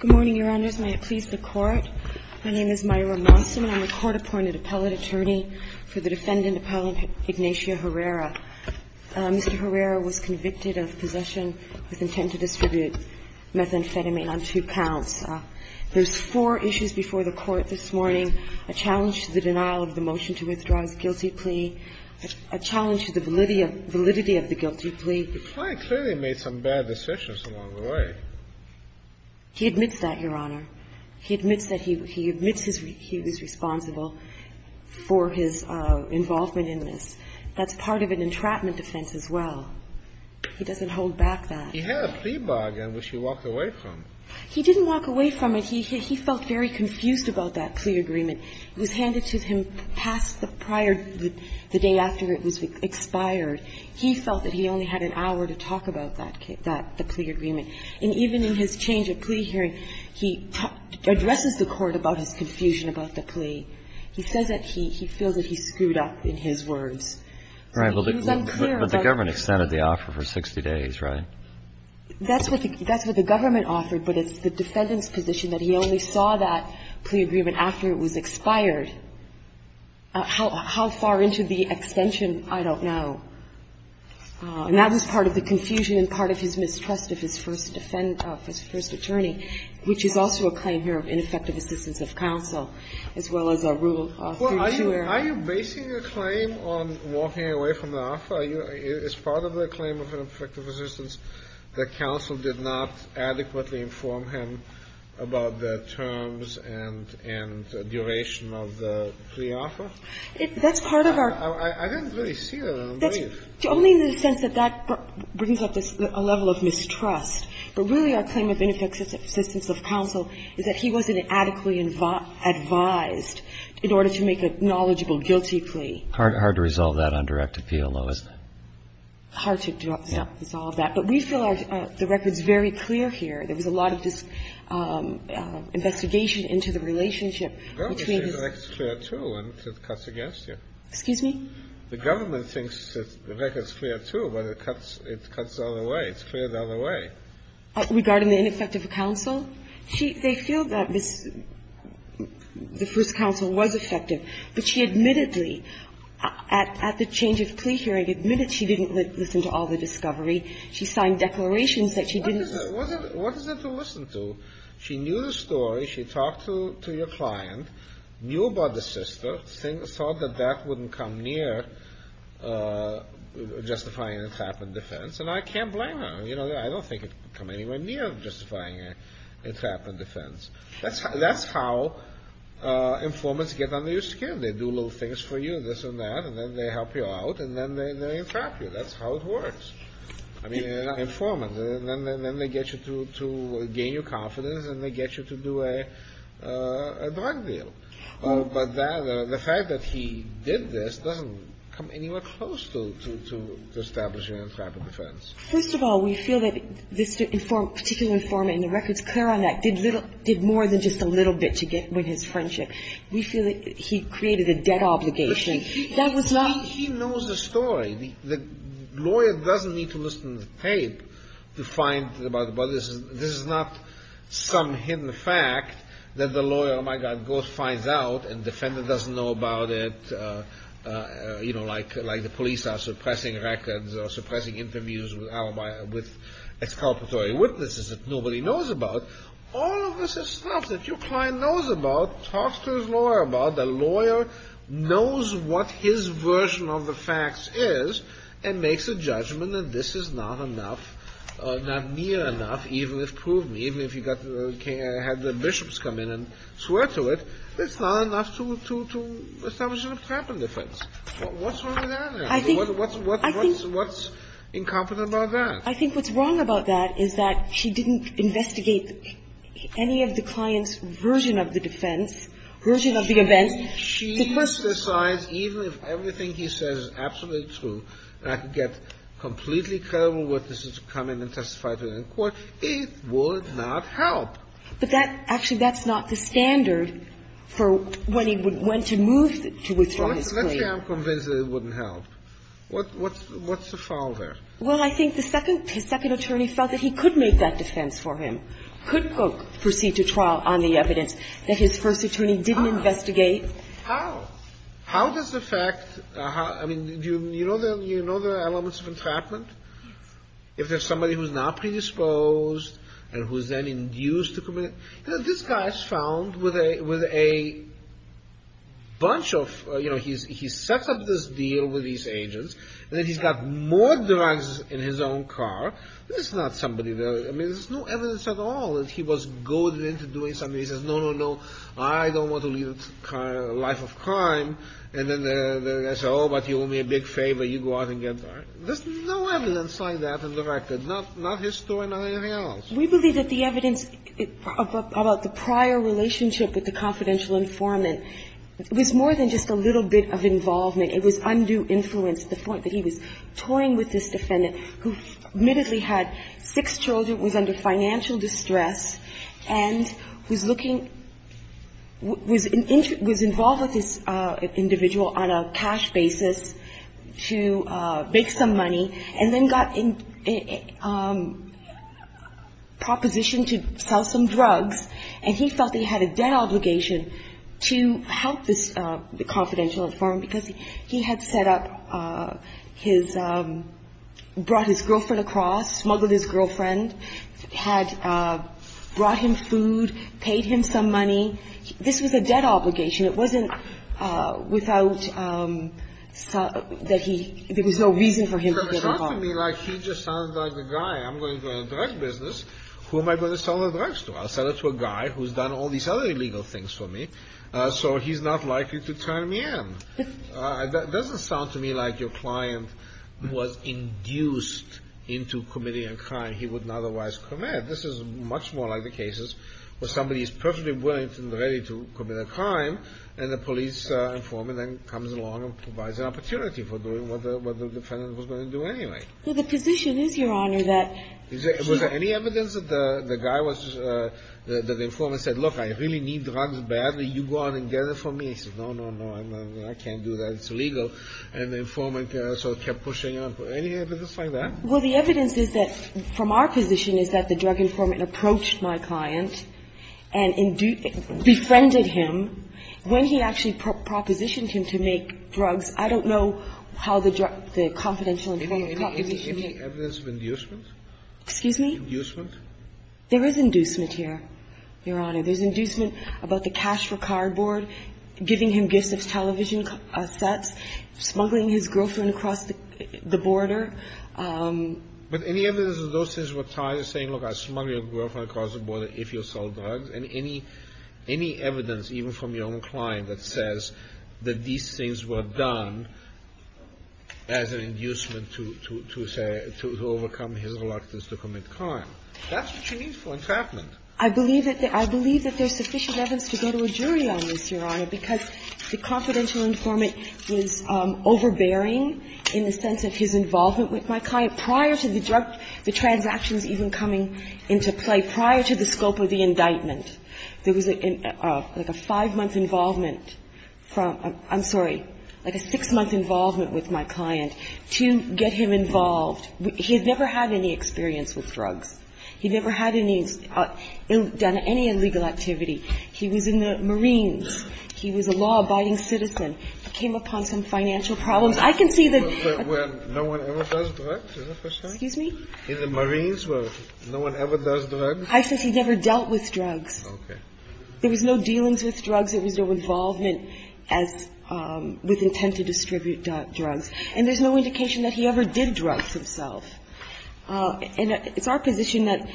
Good morning, Your Honors. May it please the Court. My name is Myra Monson, and I'm a court-appointed appellate attorney for the defendant, Appellant Ignatia Herrera. Mr. Herrera was convicted of possession with intent to distribute methamphetamine on two counts. There's four issues before the Court this morning, a challenge to the denial of the motion to withdraw his guilty plea, a challenge to the validity of the guilty plea. The client clearly made some bad decisions along the way. He admits that, Your Honor. He admits that he was responsible for his involvement in this. That's part of an entrapment defense as well. He doesn't hold back that. He had a plea bargain which he walked away from. He didn't walk away from it. He felt very confused about that plea agreement. It was handed to him past the prior the day after it was expired. He felt that he only had an hour to talk about that plea agreement. And even in his change of plea hearing, he addresses the Court about his confusion about the plea. He says that he feels that he screwed up in his words. He was unclear about it. But the government extended the offer for 60 days, right? That's what the government offered, but it's the defendant's position that he only saw that plea agreement after it was expired. How far into the extension, I don't know. And that was part of the confusion and part of his mistrust of his first defendant of his first attorney, which is also a claim here of ineffective assistance of counsel, as well as a Rule 32 error. Are you basing your claim on walking away from the offer? Is part of the claim of ineffective assistance that counsel did not adequately inform him about the terms and duration of the plea offer? That's part of our ---- I don't really see that. I don't believe. Only in the sense that that brings up a level of mistrust. But really our claim of ineffective assistance of counsel is that he wasn't adequately advised in order to make a knowledgeable guilty plea. Hard to resolve that on direct appeal, though, isn't it? Hard to resolve that. But we feel the record is very clear here. There was a lot of just investigation into the relationship between his ---- The government thinks the record is clear, too, and it cuts against you. Excuse me? The government thinks the record is clear, too, but it cuts the other way. It's cleared the other way. Regarding the ineffective counsel? They feel that the first counsel was effective, but she admittedly, at the change of plea hearing, admitted she didn't listen to all the discovery. She signed declarations that she didn't ---- What is that? What is there to listen to? She knew the story. She talked to your client, knew about the sister, thought that that wouldn't come near justifying an entrapment defense, and I can't blame her. I don't think it could come anywhere near justifying an entrapment defense. That's how informants get under your skin. They do little things for you, this and that, and then they help you out, and then they entrap you. That's how it works. I mean, informants. And then they get you to gain your confidence, and they get you to do a drug deal. But the fact that he did this doesn't come anywhere close to establishing an entrapment defense. First of all, we feel that this particular informant, and the records clear on that, did more than just a little bit to win his friendship. We feel that he created a debt obligation. That was not ---- He knows the story. The lawyer doesn't need to listen to the tape to find out about this. This is not some hidden fact that the lawyer, oh, my God, goes, finds out, and the defendant doesn't know about it, you know, like the police are suppressing records or suppressing interviews with exculpatory witnesses that nobody knows about. All of this is stuff that your client knows about, talks to his lawyer about. A lawyer knows what his version of the facts is and makes a judgment that this is not enough, not near enough, even if proven, even if you had the bishops come in and swear to it, it's not enough to establish an entrapment defense. What's wrong with that? What's incompetent about that? I think what's wrong about that is that she didn't investigate any of the client's version of the defense, version of the events. She must decide even if everything he says is absolutely true and I could get completely credible witnesses to come in and testify to it in court, it would not help. But that actually, that's not the standard for when he would go to move to withdraw his claim. Let's say I'm convinced that it wouldn't help. What's the foul there? Well, I think the second attorney felt that he could make that defense for him, could not go proceed to trial on the evidence that his first attorney didn't investigate. How? How does the fact, I mean, do you know the elements of entrapment? If there's somebody who's not predisposed and who's then induced to commit, you know, this guy's found with a bunch of, you know, he's set up this deal with these agents and then he's got more drugs in his own car. This is not somebody that, I mean, there's no evidence at all that he was goaded into doing something. He says, no, no, no, I don't want to lead a life of crime. And then they say, oh, but you owe me a big favor. You go out and get. There's no evidence like that on the record, not his story, not anything else. We believe that the evidence about the prior relationship with the confidential informant was more than just a little bit of involvement. It was undue influence to the point that he was toying with this defendant who admittedly had six children, was under financial distress, and was looking – was involved with this individual on a cash basis to make some money and then got a proposition to sell some drugs, and he felt that he had a debt obligation – he had set up his – brought his girlfriend across, smuggled his girlfriend, had brought him food, paid him some money. This was a debt obligation. It wasn't without – that he – there was no reason for him to get involved. But it sounds to me like he just sounds like the guy. I'm going to do a drug business. Who am I going to sell the drugs to? I'll sell it to a guy who's done all these other illegal things for me, so he's not likely to turn me in. It doesn't sound to me like your client was induced into committing a crime he wouldn't otherwise commit. This is much more like the cases where somebody is perfectly willing and ready to commit a crime, and the police informant then comes along and provides an opportunity for doing what the defendant was going to do anyway. Well, the position is, Your Honor, that – Was there any evidence that the guy was – that the informant said, look, I really need drugs badly. You go out and get it for me. He said, no, no, no, I can't do that. It's illegal. And the informant sort of kept pushing on. Any evidence like that? Well, the evidence is that – from our position is that the drug informant approached my client and befriended him. When he actually propositioned him to make drugs, I don't know how the drug – the confidential informant – Any evidence of inducement? Excuse me? Inducement? There is inducement here, Your Honor. There's inducement about the cash for cardboard, giving him gifts of television sets, smuggling his girlfriend across the border. But any evidence of those things were tied to saying, look, I'll smuggle your girlfriend across the border if you'll sell drugs, and any – any evidence, even from your own client, that says that these things were done as an inducement to – to say – to overcome his reluctance to commit crime? That's what you need for entrapment. I believe that there's sufficient evidence to go to a jury on this, Your Honor, because the confidential informant was overbearing in the sense of his involvement with my client prior to the drug – the transactions even coming into play, prior to the scope of the indictment. There was like a five-month involvement from – I'm sorry, like a six-month involvement with my client to get him involved. He had never had any experience with drugs. He never had any – done any illegal activity. He was in the Marines. He was a law-abiding citizen. He came upon some financial problems. I can see the – But where no one ever does drugs? Is that what you're saying? Excuse me? In the Marines where no one ever does drugs? I said he never dealt with drugs. Okay. There was no dealings with drugs. There was no involvement as – with intent to distribute drugs. And there's no indication that he ever did drugs himself. And it's our position that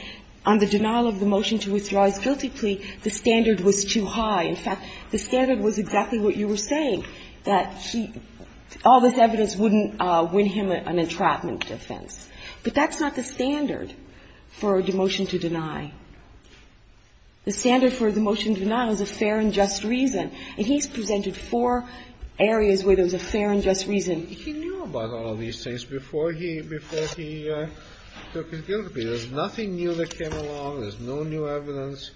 on the denial of the motion to withdraw his guilty plea, the standard was too high. In fact, the standard was exactly what you were saying, that he – all this evidence wouldn't win him an entrapment offense. But that's not the standard for a demotion to deny. The standard for a demotion denial is a fair and just reason. And he's presented four areas where there's a fair and just reason. He knew about all of these things before he took his guilty plea. There's nothing new that came along. There's no new evidence.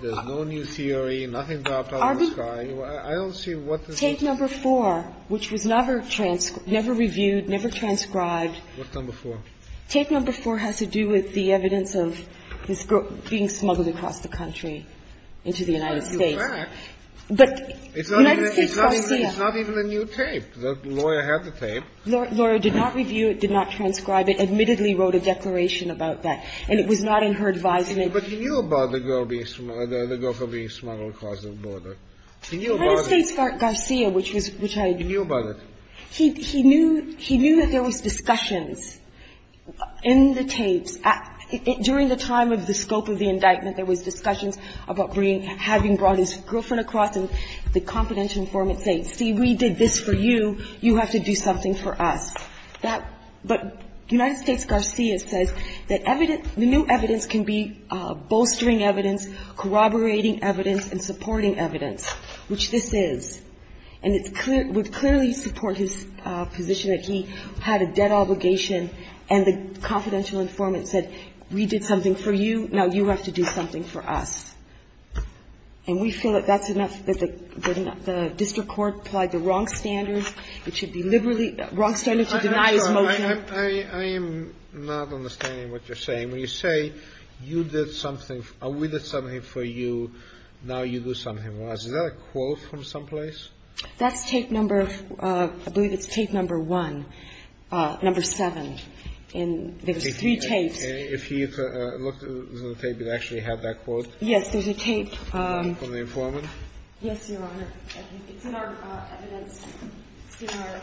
There's no new theory. Nothing dropped out of the sky. I don't see what this is. Tape number four, which was never reviewed, never transcribed. What number four? Tape number four has to do with the evidence of this being smuggled across the country into the United States. But you're correct. But the United States trustee – It's not even a new tape. The lawyer had the tape. The lawyer did not review it, did not transcribe it, admittedly wrote a declaration about that. And it was not in her advisement. But he knew about the girl being – the girl being smuggled across the border. He knew about it. United States Garcia, which was – which I – He knew about it. He knew – he knew that there was discussions in the tapes. During the time of the scope of the indictment, there was discussions about having brought his girlfriend across and the confidential informant saying, see, we did this for you. You have to do something for us. But United States Garcia says that the new evidence can be bolstering evidence, corroborating evidence, and supporting evidence, which this is. And it would clearly support his position that he had a debt obligation. And the confidential informant said, we did something for you. Now you have to do something for us. And we feel that that's enough, that the district court applied the wrong standards. It should be liberally – wrong standards to deny his motion. I am not understanding what you're saying. When you say you did something – we did something for you, now you do something for us. Is that a quote from someplace? That's tape number – I believe it's tape number one, number seven. And there was three tapes. If he looked at the tape, it actually had that quote. Yes. There's a tape. From the informant? Yes, Your Honor. It's in our evidence. It's in our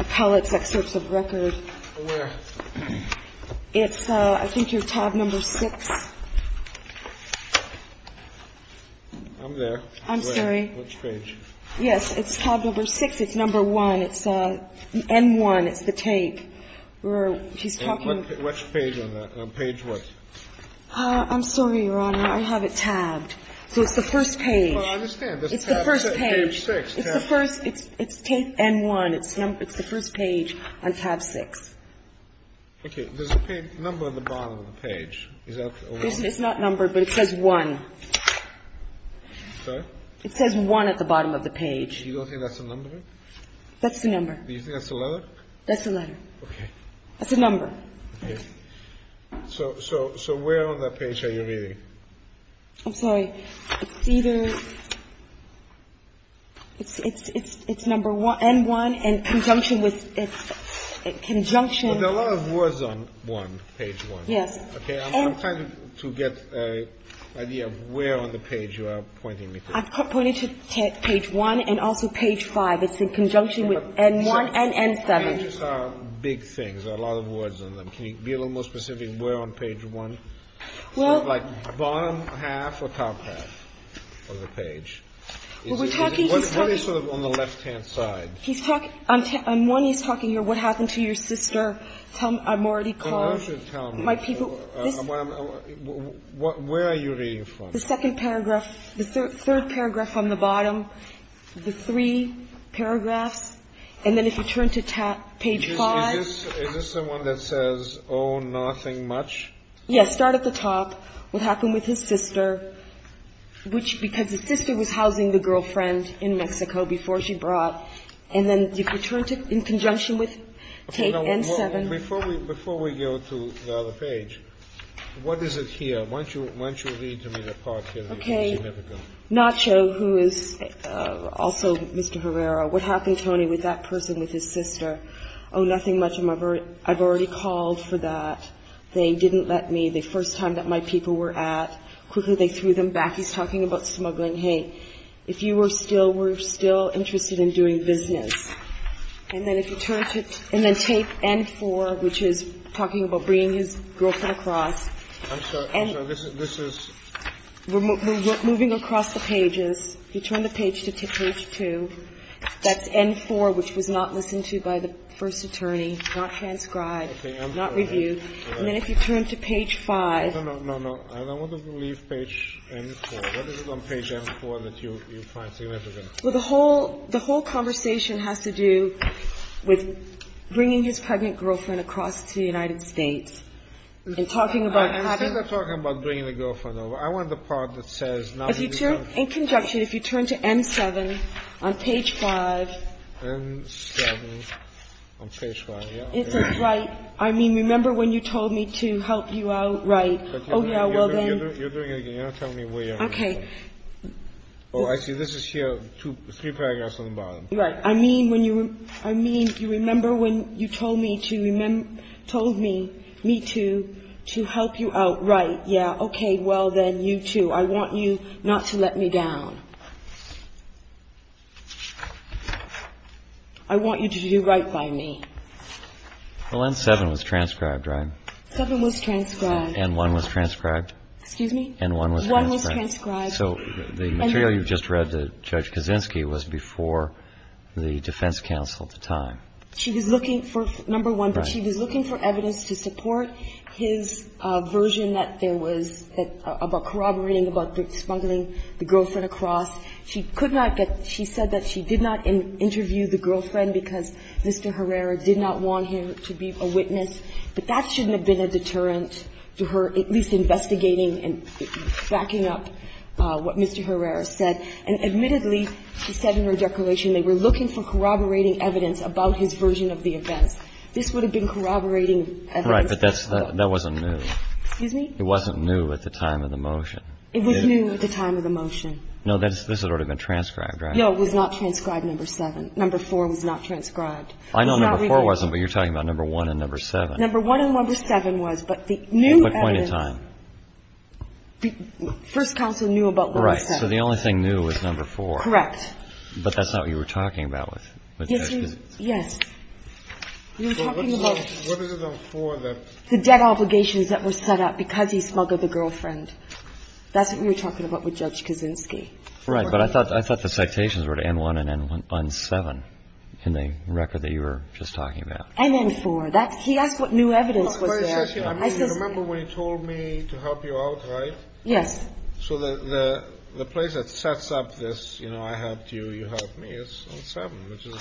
appellate's excerpts of record. Where? It's I think you're tab number six. I'm there. I'm sorry. Which page? Yes. It's tab number six. It's number one. It's N1. It's the tape. Which page on that? On page what? I'm sorry, Your Honor. I have it tabbed. So it's the first page. Well, I understand. It's the first page. It's the first – it's tape N1. It's the first page on tab six. Okay. There's a number at the bottom of the page. Is that a one? It's not numbered, but it says one. Sorry? It says one at the bottom of the page. You don't think that's a number? That's the number. Do you think that's the letter? That's the letter. Okay. That's the number. Okay. So where on that page are you reading? I'm sorry. It's either – it's number N1 in conjunction with – in conjunction. Well, there are a lot of words on one, page one. Yes. Okay. I'm trying to get an idea of where on the page you are pointing me to. I'm pointing to page one and also page five. It's in conjunction with N1 and N7. Okay. So the pages are big things. There are a lot of words on them. Can you be a little more specific where on page one? Well – Like bottom half or top half of the page? We're talking – What is sort of on the left-hand side? He's talking – on one, he's talking here, what happened to your sister. Tell him I'm already called. Well, you should tell me. My people – This – Where are you reading from? The second paragraph – the third paragraph on the bottom, the three paragraphs, and then if you turn to page five. Is this the one that says, oh, nothing much? Yes. Start at the top. What happened with his sister, which – because the sister was housing the girlfriend in Mexico before she brought. And then if you turn to – in conjunction with tape N7. Before we go to the other page, what is it here? Why don't you read to me the part here? Okay. Nacho, who is also Mr. Herrera, what happened, Tony, with that person with his sister? Oh, nothing much. I've already called for that. They didn't let me. The first time that my people were at, quickly they threw them back. He's talking about smuggling. Hey, if you were still – were still interested in doing business. And then if you turn to – and then tape N4, which is talking about bringing his girlfriend across. I'm sorry. I'm sorry. This is – Moving across the pages. You turn the page to page two. That's N4, which was not listened to by the first attorney, not transcribed, not reviewed. And then if you turn to page five. No, no, no, no. I want to leave page N4. What is it on page N4 that you find significant? Well, the whole – the whole conversation has to do with bringing his pregnant girlfriend across to the United States and talking about having – Instead of talking about bringing the girlfriend over, I want the part that says – If you turn – in conjunction, if you turn to N7 on page five. N7 on page five. Yeah. Right. I mean, remember when you told me to help you out? Right. Oh, yeah. Well, then – You're doing it again. You're not telling me where you're going. Okay. Oh, I see. This is here. Three paragraphs on the bottom. Right. I mean, when you – I mean, you remember when you told me to – told me – me to help you out? Right. Yeah. Okay. Well, then, you too. I want you not to let me down. I want you to do right by me. Well, N7 was transcribed, right? Seven was transcribed. And one was transcribed? Excuse me? And one was transcribed. One was transcribed. So the material you just read to Judge Kaczynski was before the defense counsel at the time. She was looking for – number one, but she was looking for evidence to support his version that there was – about corroborating, about smuggling the girlfriend across. She could not get – she said that she did not interview the girlfriend because Mr. Herrera did not want him to be a witness. But that shouldn't have been a deterrent to her at least investigating and backing up what Mr. Herrera said. And admittedly, she said in her declaration they were looking for corroborating evidence about his version of the events. This would have been corroborating evidence. Right, but that's – that wasn't new. Excuse me? It wasn't new at the time of the motion. It was new at the time of the motion. No, this had already been transcribed, right? No, it was not transcribed, number seven. Number four was not transcribed. I know number four wasn't, but you're talking about number one and number seven. Number one and number seven was, but the new evidence – At what point in time? First counsel knew about what was said. Right, so the only thing new was number four. Correct. But that's not what you were talking about with – Yes, you – yes. You were talking about – What are the four that – The debt obligations that were set up because he smuggled the girlfriend. That's what we were talking about with Judge Kaczynski. Right, but I thought the citations were to N1 and N7 in the record that you were just talking about. NN4. That's – he asked what new evidence was there. I mean, you remember when he told me to help you out, right? Yes. So the place that sets up this, you know, I helped you, you helped me, is on seven, which is –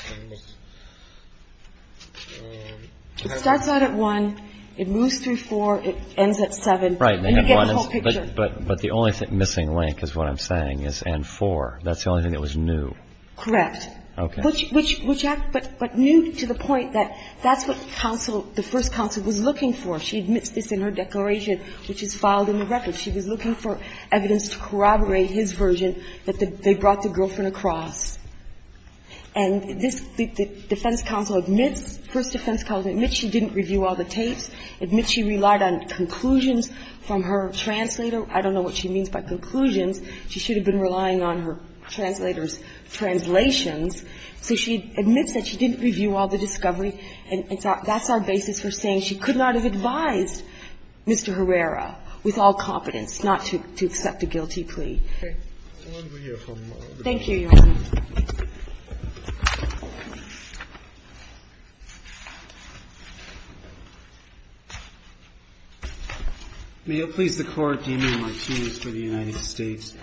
It starts out at one, it moves through four, it ends at seven, and you get the whole picture. Right, but the only missing link is what I'm saying is N4. That's the only thing that was new. Correct. Okay. Which – but new to the point that that's what counsel, the first counsel, was looking for. She admits this in her declaration, which is filed in the record. She was looking for evidence to corroborate his version that they brought the girlfriend across. And this defense counsel admits, first defense counsel admits she didn't review all the tapes, admits she relied on conclusions from her translator. I don't know what she means by conclusions. She should have been relying on her translator's translations. So she admits that she didn't review all the discovery. And that's our basis for saying she could not have advised Mr. Herrera with all competence not to accept a guilty plea. Thank you, Your Honor. May it please the Court, Demian Martinez for the United States.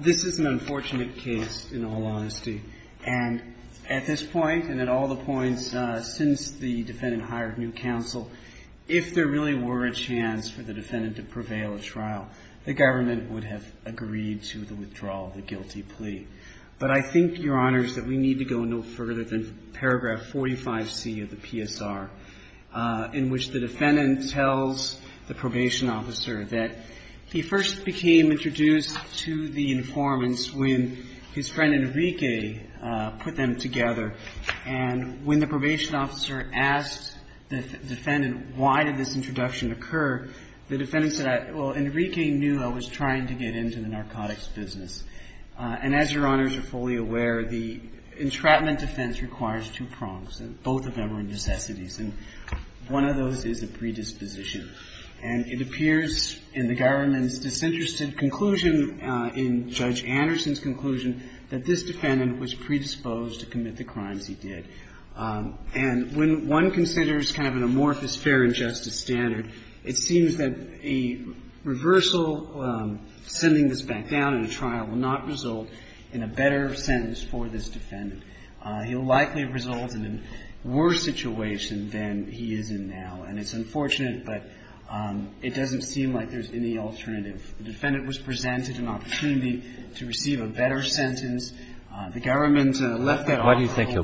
This is an unfortunate case in all honesty. And at this point and at all the points since the defendant hired new counsel, if there really were a chance for the defendant to prevail at trial, the government would have agreed to the withdrawal of the guilty plea. But I think, Your Honors, that we need to go no further than paragraph 45C of the PSR, in which the defendant tells the probation officer that he first became introduced to the informants when his friend Enrique put them together. And when the probation officer asked the defendant why did this introduction occur, the defendant said, well, Enrique knew I was trying to get into the narcotics business. And as Your Honors are fully aware, the entrapment defense requires two prongs, and both of them are necessities. And one of those is a predisposition. And it appears in the government's disinterested conclusion, in Judge Anderson's conclusion, that this defendant was predisposed to commit the crimes he did. And when one considers kind of an amorphous fair and justice standard, it seems that a reversal, sending this back down in a trial, will not result in a better sentence for this defendant. He'll likely result in a worse situation than he is in now. And it's unfortunate, but it doesn't seem like there's any alternative. The defendant was presented an opportunity to receive a better sentence. The government left that off. Why do you think he'll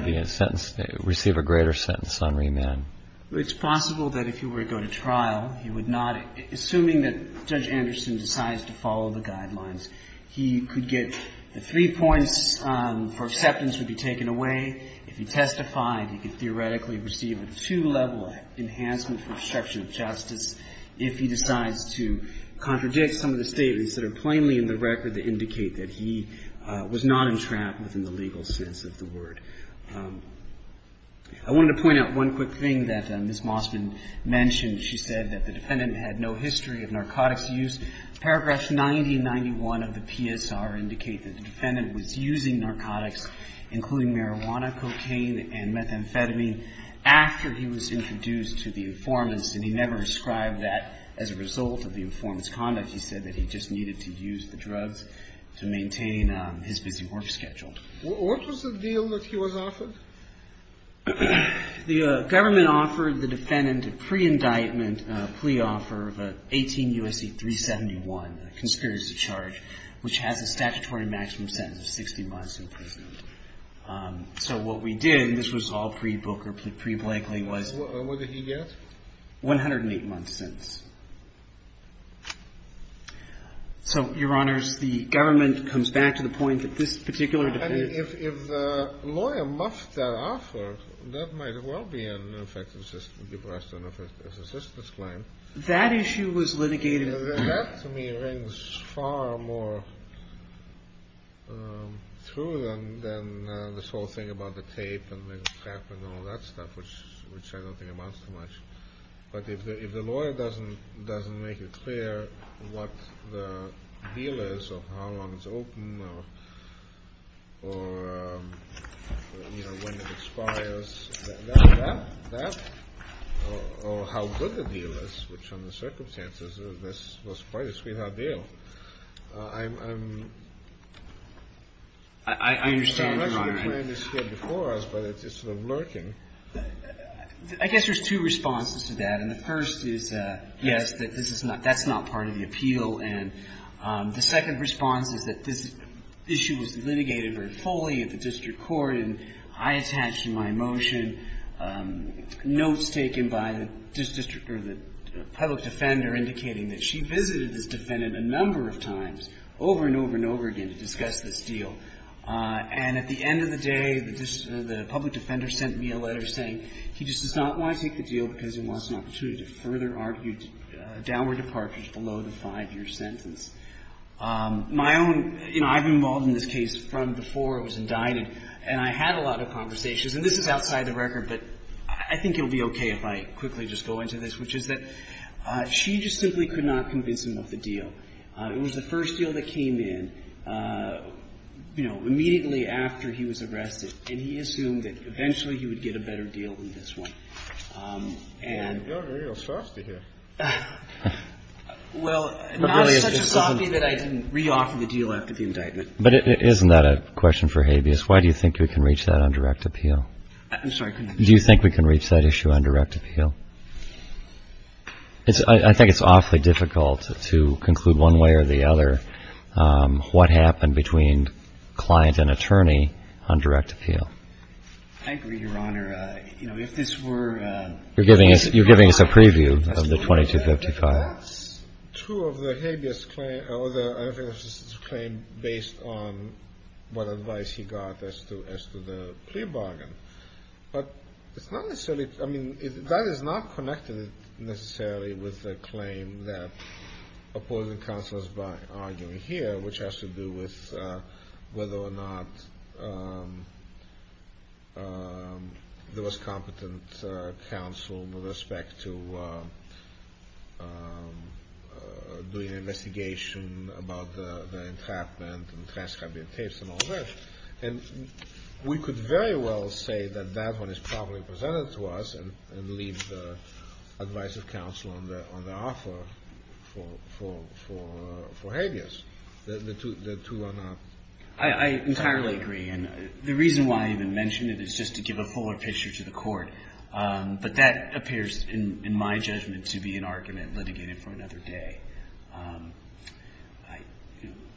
receive a greater sentence on remand? Well, it's possible that if he were to go to trial, he would not. Assuming that Judge Anderson decides to follow the guidelines, he could get the three points for acceptance would be taken away. If he testified, he could theoretically receive a two-level enhancement for obstruction of justice if he decides to contradict some of the statements that are plainly in the record that indicate that he was not entrapped within the legal sense of the word. I wanted to point out one quick thing that Ms. Mossman mentioned. She said that the defendant had no history of narcotics use. Paragraphs 90 and 91 of the PSR indicate that the defendant was using narcotics, including marijuana, cocaine, and methamphetamine, after he was introduced to the informants, and he never ascribed that as a result of the informant's conduct. He said that he just needed to use the drugs to maintain his busy work schedule. What was the deal that he was offered? The government offered the defendant a pre-indictment plea offer of an 18 U.S.C. 371, a conspiracy charge, which has a statutory maximum sentence of 60 months in prison. So what we did, and this was all pre-Booker, pre-Blakely, was... What did he get? 108 months' sentence. So, Your Honors, the government comes back to the point that this particular defendant... And if the lawyer muffed that offer, that might well be an effective depression, an effective assistance claim. That issue was litigated... That, to me, rings far more true than this whole thing about the tape and the crap and all that stuff, which I don't think amounts to much. But if the lawyer doesn't make it clear what the deal is or how long it's open or, you know, when it expires, that or how good the deal is, which under the circumstances, this was quite a sweetheart deal, I'm... I understand, Your Honor. I'm not sure the plan is here before us, but it's sort of lurking. I guess there's two responses to that. And the first is, yes, that this is not – that's not part of the appeal. And the second response is that this issue was litigated very fully at the district court, and I attached in my motion notes taken by the public defender indicating that she visited this defendant a number of times, over and over and over again, to discuss this deal. And at the end of the day, the public defender sent me a letter saying he just does not want to take the deal because he wants an opportunity to further argue downward departures below the five-year sentence. My own – you know, I've been involved in this case from before I was indicted, and I had a lot of conversations. And this is outside the record, but I think it will be okay if I quickly just go into this, which is that she just simply could not convince him of the deal. It was the first deal that came in, you know, immediately after he was arrested, and he assumed that eventually he would get a better deal than this one. And... Well, now it's such a softie that I didn't re-offer the deal after the indictment. But isn't that a question for habeas? Why do you think we can reach that on direct appeal? I'm sorry. Do you think we can reach that issue on direct appeal? I think it's awfully difficult to conclude one way or the other what happened between client and attorney on direct appeal. I agree, Your Honor. You know, if this were... You're giving us a preview of the 2255. That's true of the habeas claim, or the habeas claim based on what advice he got as to the plea bargain. But it's not necessarily... I mean, that is not connected necessarily with the claim that opposing counsel is arguing here, which has to do with whether or not there was competent counsel with respect to doing an investigation about the entrapment and transcribing tapes and all that. And we could very well say that that one is properly presented to us and leave the advice of counsel on the offer for habeas. The two are not... I entirely agree. And the reason why I even mention it is just to give a fuller picture to the court. But that appears, in my judgment, to be an argument litigated for another day.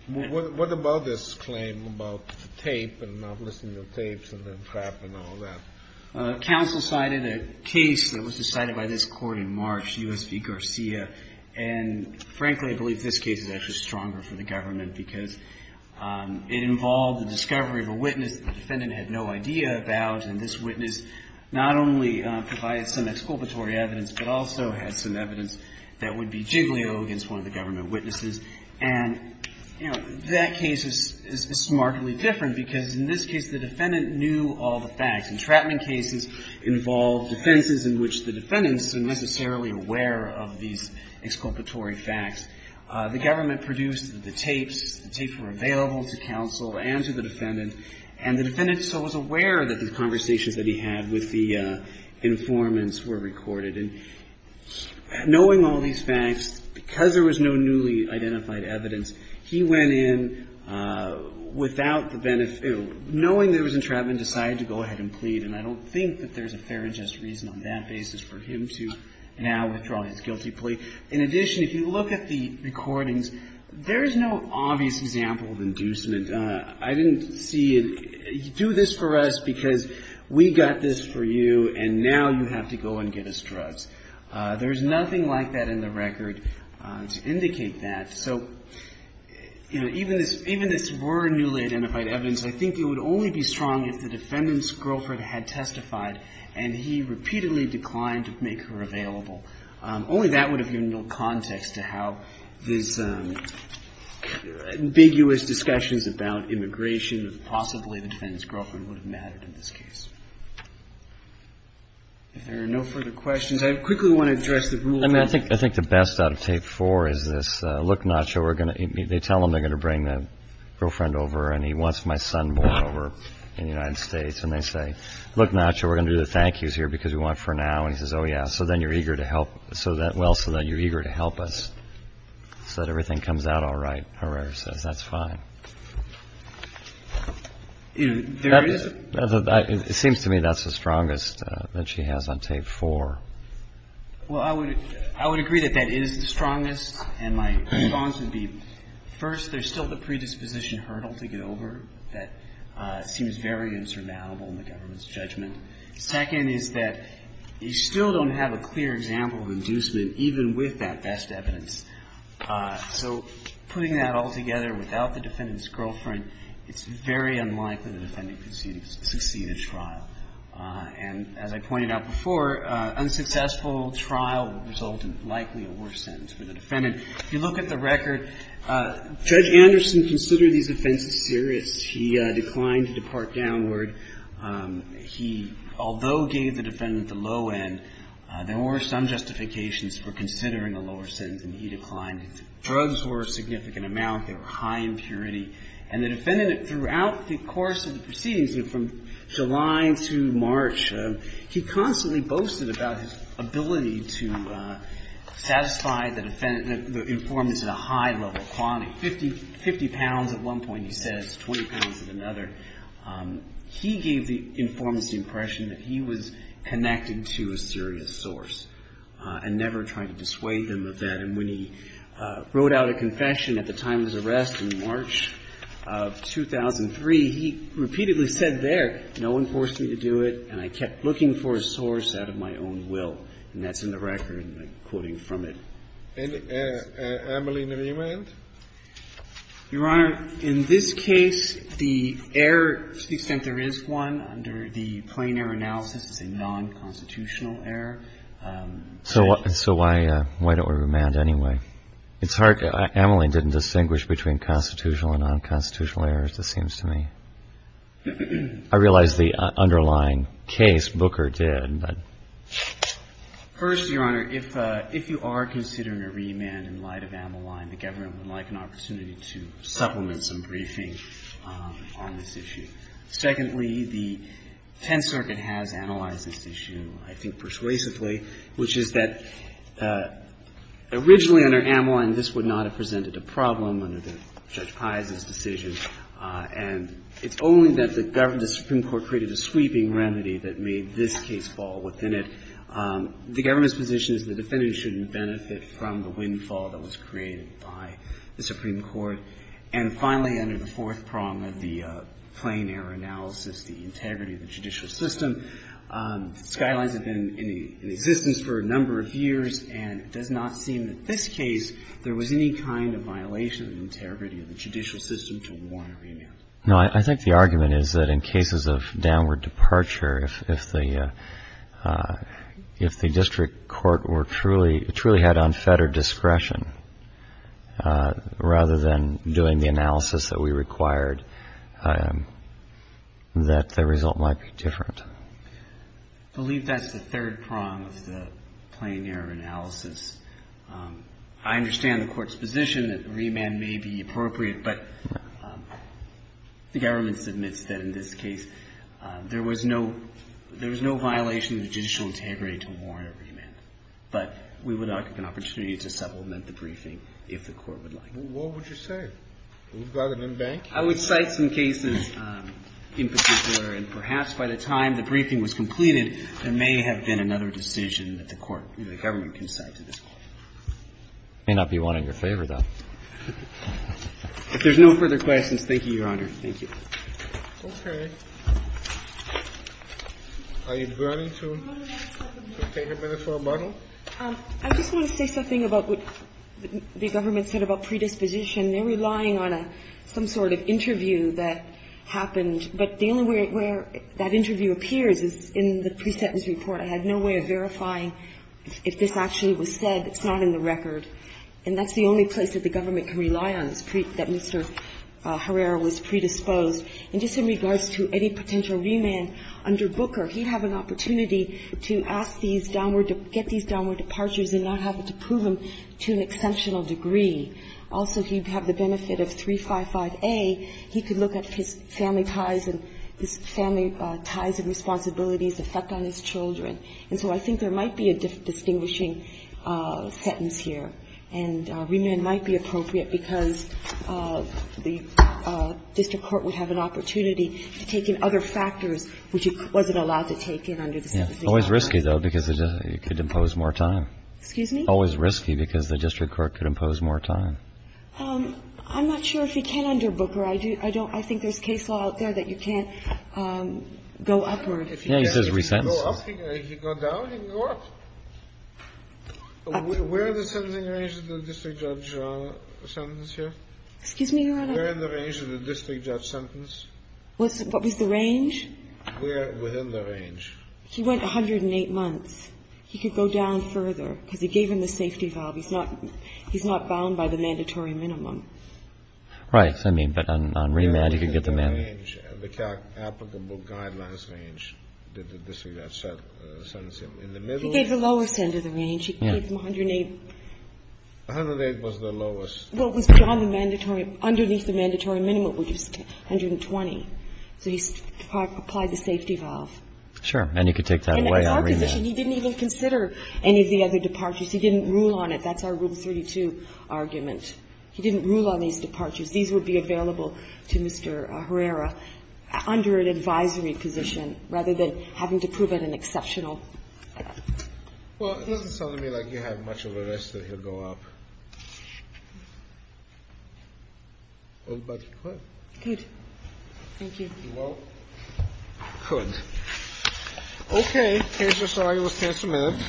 What about this claim about the tape and not listening to the tapes and the entrapment and all that? Counsel cited a case that was decided by this court in March, U.S. v. Garcia. And, frankly, I believe this case is actually stronger for the government because it involved the discovery of a witness the defendant had no idea about. And this witness not only provided some exculpatory evidence, but also had some evidence that would be jiggly-oh against one of the government witnesses. And, you know, that case is smartly different because, in this case, the defendant knew all the facts. Entrapment cases involved defenses in which the defendants weren't necessarily aware of these exculpatory facts. The government produced the tapes. The tapes were available to counsel and to the defendant. And the defendant was aware that the conversations that he had with the informants were recorded. And knowing all these facts, because there was no newly identified evidence, he went in without the benefit of knowing there was entrapment, decided to go ahead and plead. And I don't think that there's a fair and just reason on that basis for him to now withdraw his guilty plea. In addition, if you look at the recordings, there is no obvious example of inducement. I didn't see it. You do this for us because we got this for you, and now you have to go and get us drugs. There is nothing like that in the record to indicate that. So, you know, even this were newly identified evidence, I think it would only be strong if the defendant's girlfriend had testified and he repeatedly declined to make her available. Only that would have given no context to how these ambiguous discussions about immigration or possibly the defendant's girlfriend would have mattered in this case. If there are no further questions, I quickly want to address the rule of thumb. I think the best out of tape four is this. Look, Nacho, we're going to tell them they're going to bring the girlfriend over. And he wants my son more over in the United States. And they say, look, Nacho, we're going to do the thank yous here because we want for now. And he says, oh, yeah. So then you're eager to help. So that well, so that you're eager to help us so that everything comes out all right. That's fine. It seems to me that's the strongest that she has on tape four. Well, I would agree that that is the strongest. And my response would be, first, there's still the predisposition hurdle to get over that seems very insurmountable in the government's judgment. Second is that you still don't have a clear example of inducement even with that best evidence. So putting that all together without the defendant's girlfriend, it's very unlikely the defendant could succeed in trial. And as I pointed out before, unsuccessful trial would result in likely a worse sentence for the defendant. If you look at the record, Judge Anderson considered these offenses serious. He declined to depart downward. He, although gave the defendant the low end, there were some justifications for considering a lower sentence, and he declined. Drugs were a significant amount. They were high in purity. And the defendant, throughout the course of the proceedings, from July to March, he constantly boasted about his ability to satisfy the defendant, the informants at a high level, quantity, 50 pounds at one point, he says, 20 pounds at another. He gave the informants the impression that he was connected to a serious source and never tried to dissuade them of that. And when he wrote out a confession at the time of his arrest in March of 2003, he repeatedly said there, no one forced me to do it, and I kept looking for a source out of my own will. And that's in the record, and I'm quoting from it. And, Amelie, do you mind? Your Honor, in this case, the error, to the extent there is one, under the plain error analysis is a nonconstitutional error. So why don't we remand anyway? It's hard. Amelie didn't distinguish between constitutional and nonconstitutional errors, it seems to me. I realize the underlying case, Booker did, but. First, Your Honor, if you are considering a remand in light of Amelie, the government would like an opportunity to supplement some briefing on this issue. Secondly, the Tenth Circuit has analyzed this issue, I think persuasively, which is that originally under Amelie, this would not have presented a problem under Judge Piazza's decision. And it's only that the government, the Supreme Court created a sweeping remedy that made this case fall within it. The government's position is the defendant shouldn't benefit from the windfall that was created by the Supreme Court. And finally, under the fourth prong of the plain error analysis, the integrity of the judicial system, Skylines has been in existence for a number of years, and it does not seem that this case there was any kind of violation of the integrity of the judicial system to warrant a remand. No, I think the argument is that in cases of downward departure, if the district court were truly, truly had unfettered discretion rather than doing the analysis that we required, that the result might be different. I believe that's the third prong of the plain error analysis. I understand the Court's position that remand may be appropriate, but the government submits that in this case there was no violation of the judicial integrity to warrant a remand. But we would like an opportunity to supplement the briefing if the Court would like. What would you say? We've got an in-bank? I would cite some cases in particular, and perhaps by the time the briefing was completed, there may have been another decision that the Court, the government can cite to this Court. There may not be one in your favor, though. If there's no further questions, thank you, Your Honor. Thank you. Okay. Are you willing to take a minute for a bundle? I just want to say something about what the government said about predisposition. They're relying on some sort of interview that happened, but the only way where that interview appears is in the pre-sentence report. I had no way of verifying if this actually was said. It's not in the record. And that's the only place that the government can rely on, that Mr. Herrera was predisposed. And just in regards to any potential remand under Booker, he'd have an opportunity to ask these downward to get these downward departures and not have to prove them to an exceptional degree. Also, he'd have the benefit of 355A. He could look at his family ties and his family ties and responsibilities affect on his children. And so I think there might be a distinguishing sentence here. And remand might be appropriate because the district court would have an opportunity to take in other factors which he wasn't allowed to take in under the same decision. Yeah. Always risky, though, because it could impose more time. Excuse me? Always risky because the district court could impose more time. I'm not sure if you can under Booker. I think there's case law out there that you can't go upward. Yeah, he says resentence. If you go up, if you go down, you can go up. Where are the sentencing ranges in the district judge sentence here? Excuse me, Your Honor? Where in the range is the district judge sentence? What was the range? Where within the range. He went 108 months. He could go down further because he gave him the safety valve. He's not bound by the mandatory minimum. I mean, but on remand he could get the mandate. Where within the range, the applicable guidelines range, did the district judge sentence him? In the middle? He gave the lowest end of the range. He gave him 108. 108 was the lowest. Well, it was beyond the mandatory underneath the mandatory minimum, which is 120. So he applied the safety valve. Sure. And you could take that away on remand. And in our position, he didn't even consider any of the other departures. He didn't rule on it. That's our Rule 32 argument. He didn't rule on these departures. These would be available to Mr. Herrera under an advisory position rather than having to prove it an exceptional. Well, it doesn't sound to me like you have much of a risk that he'll go up. But he could. He could. Thank you. Well, he could. Thank you, sir. You will stand for a minute.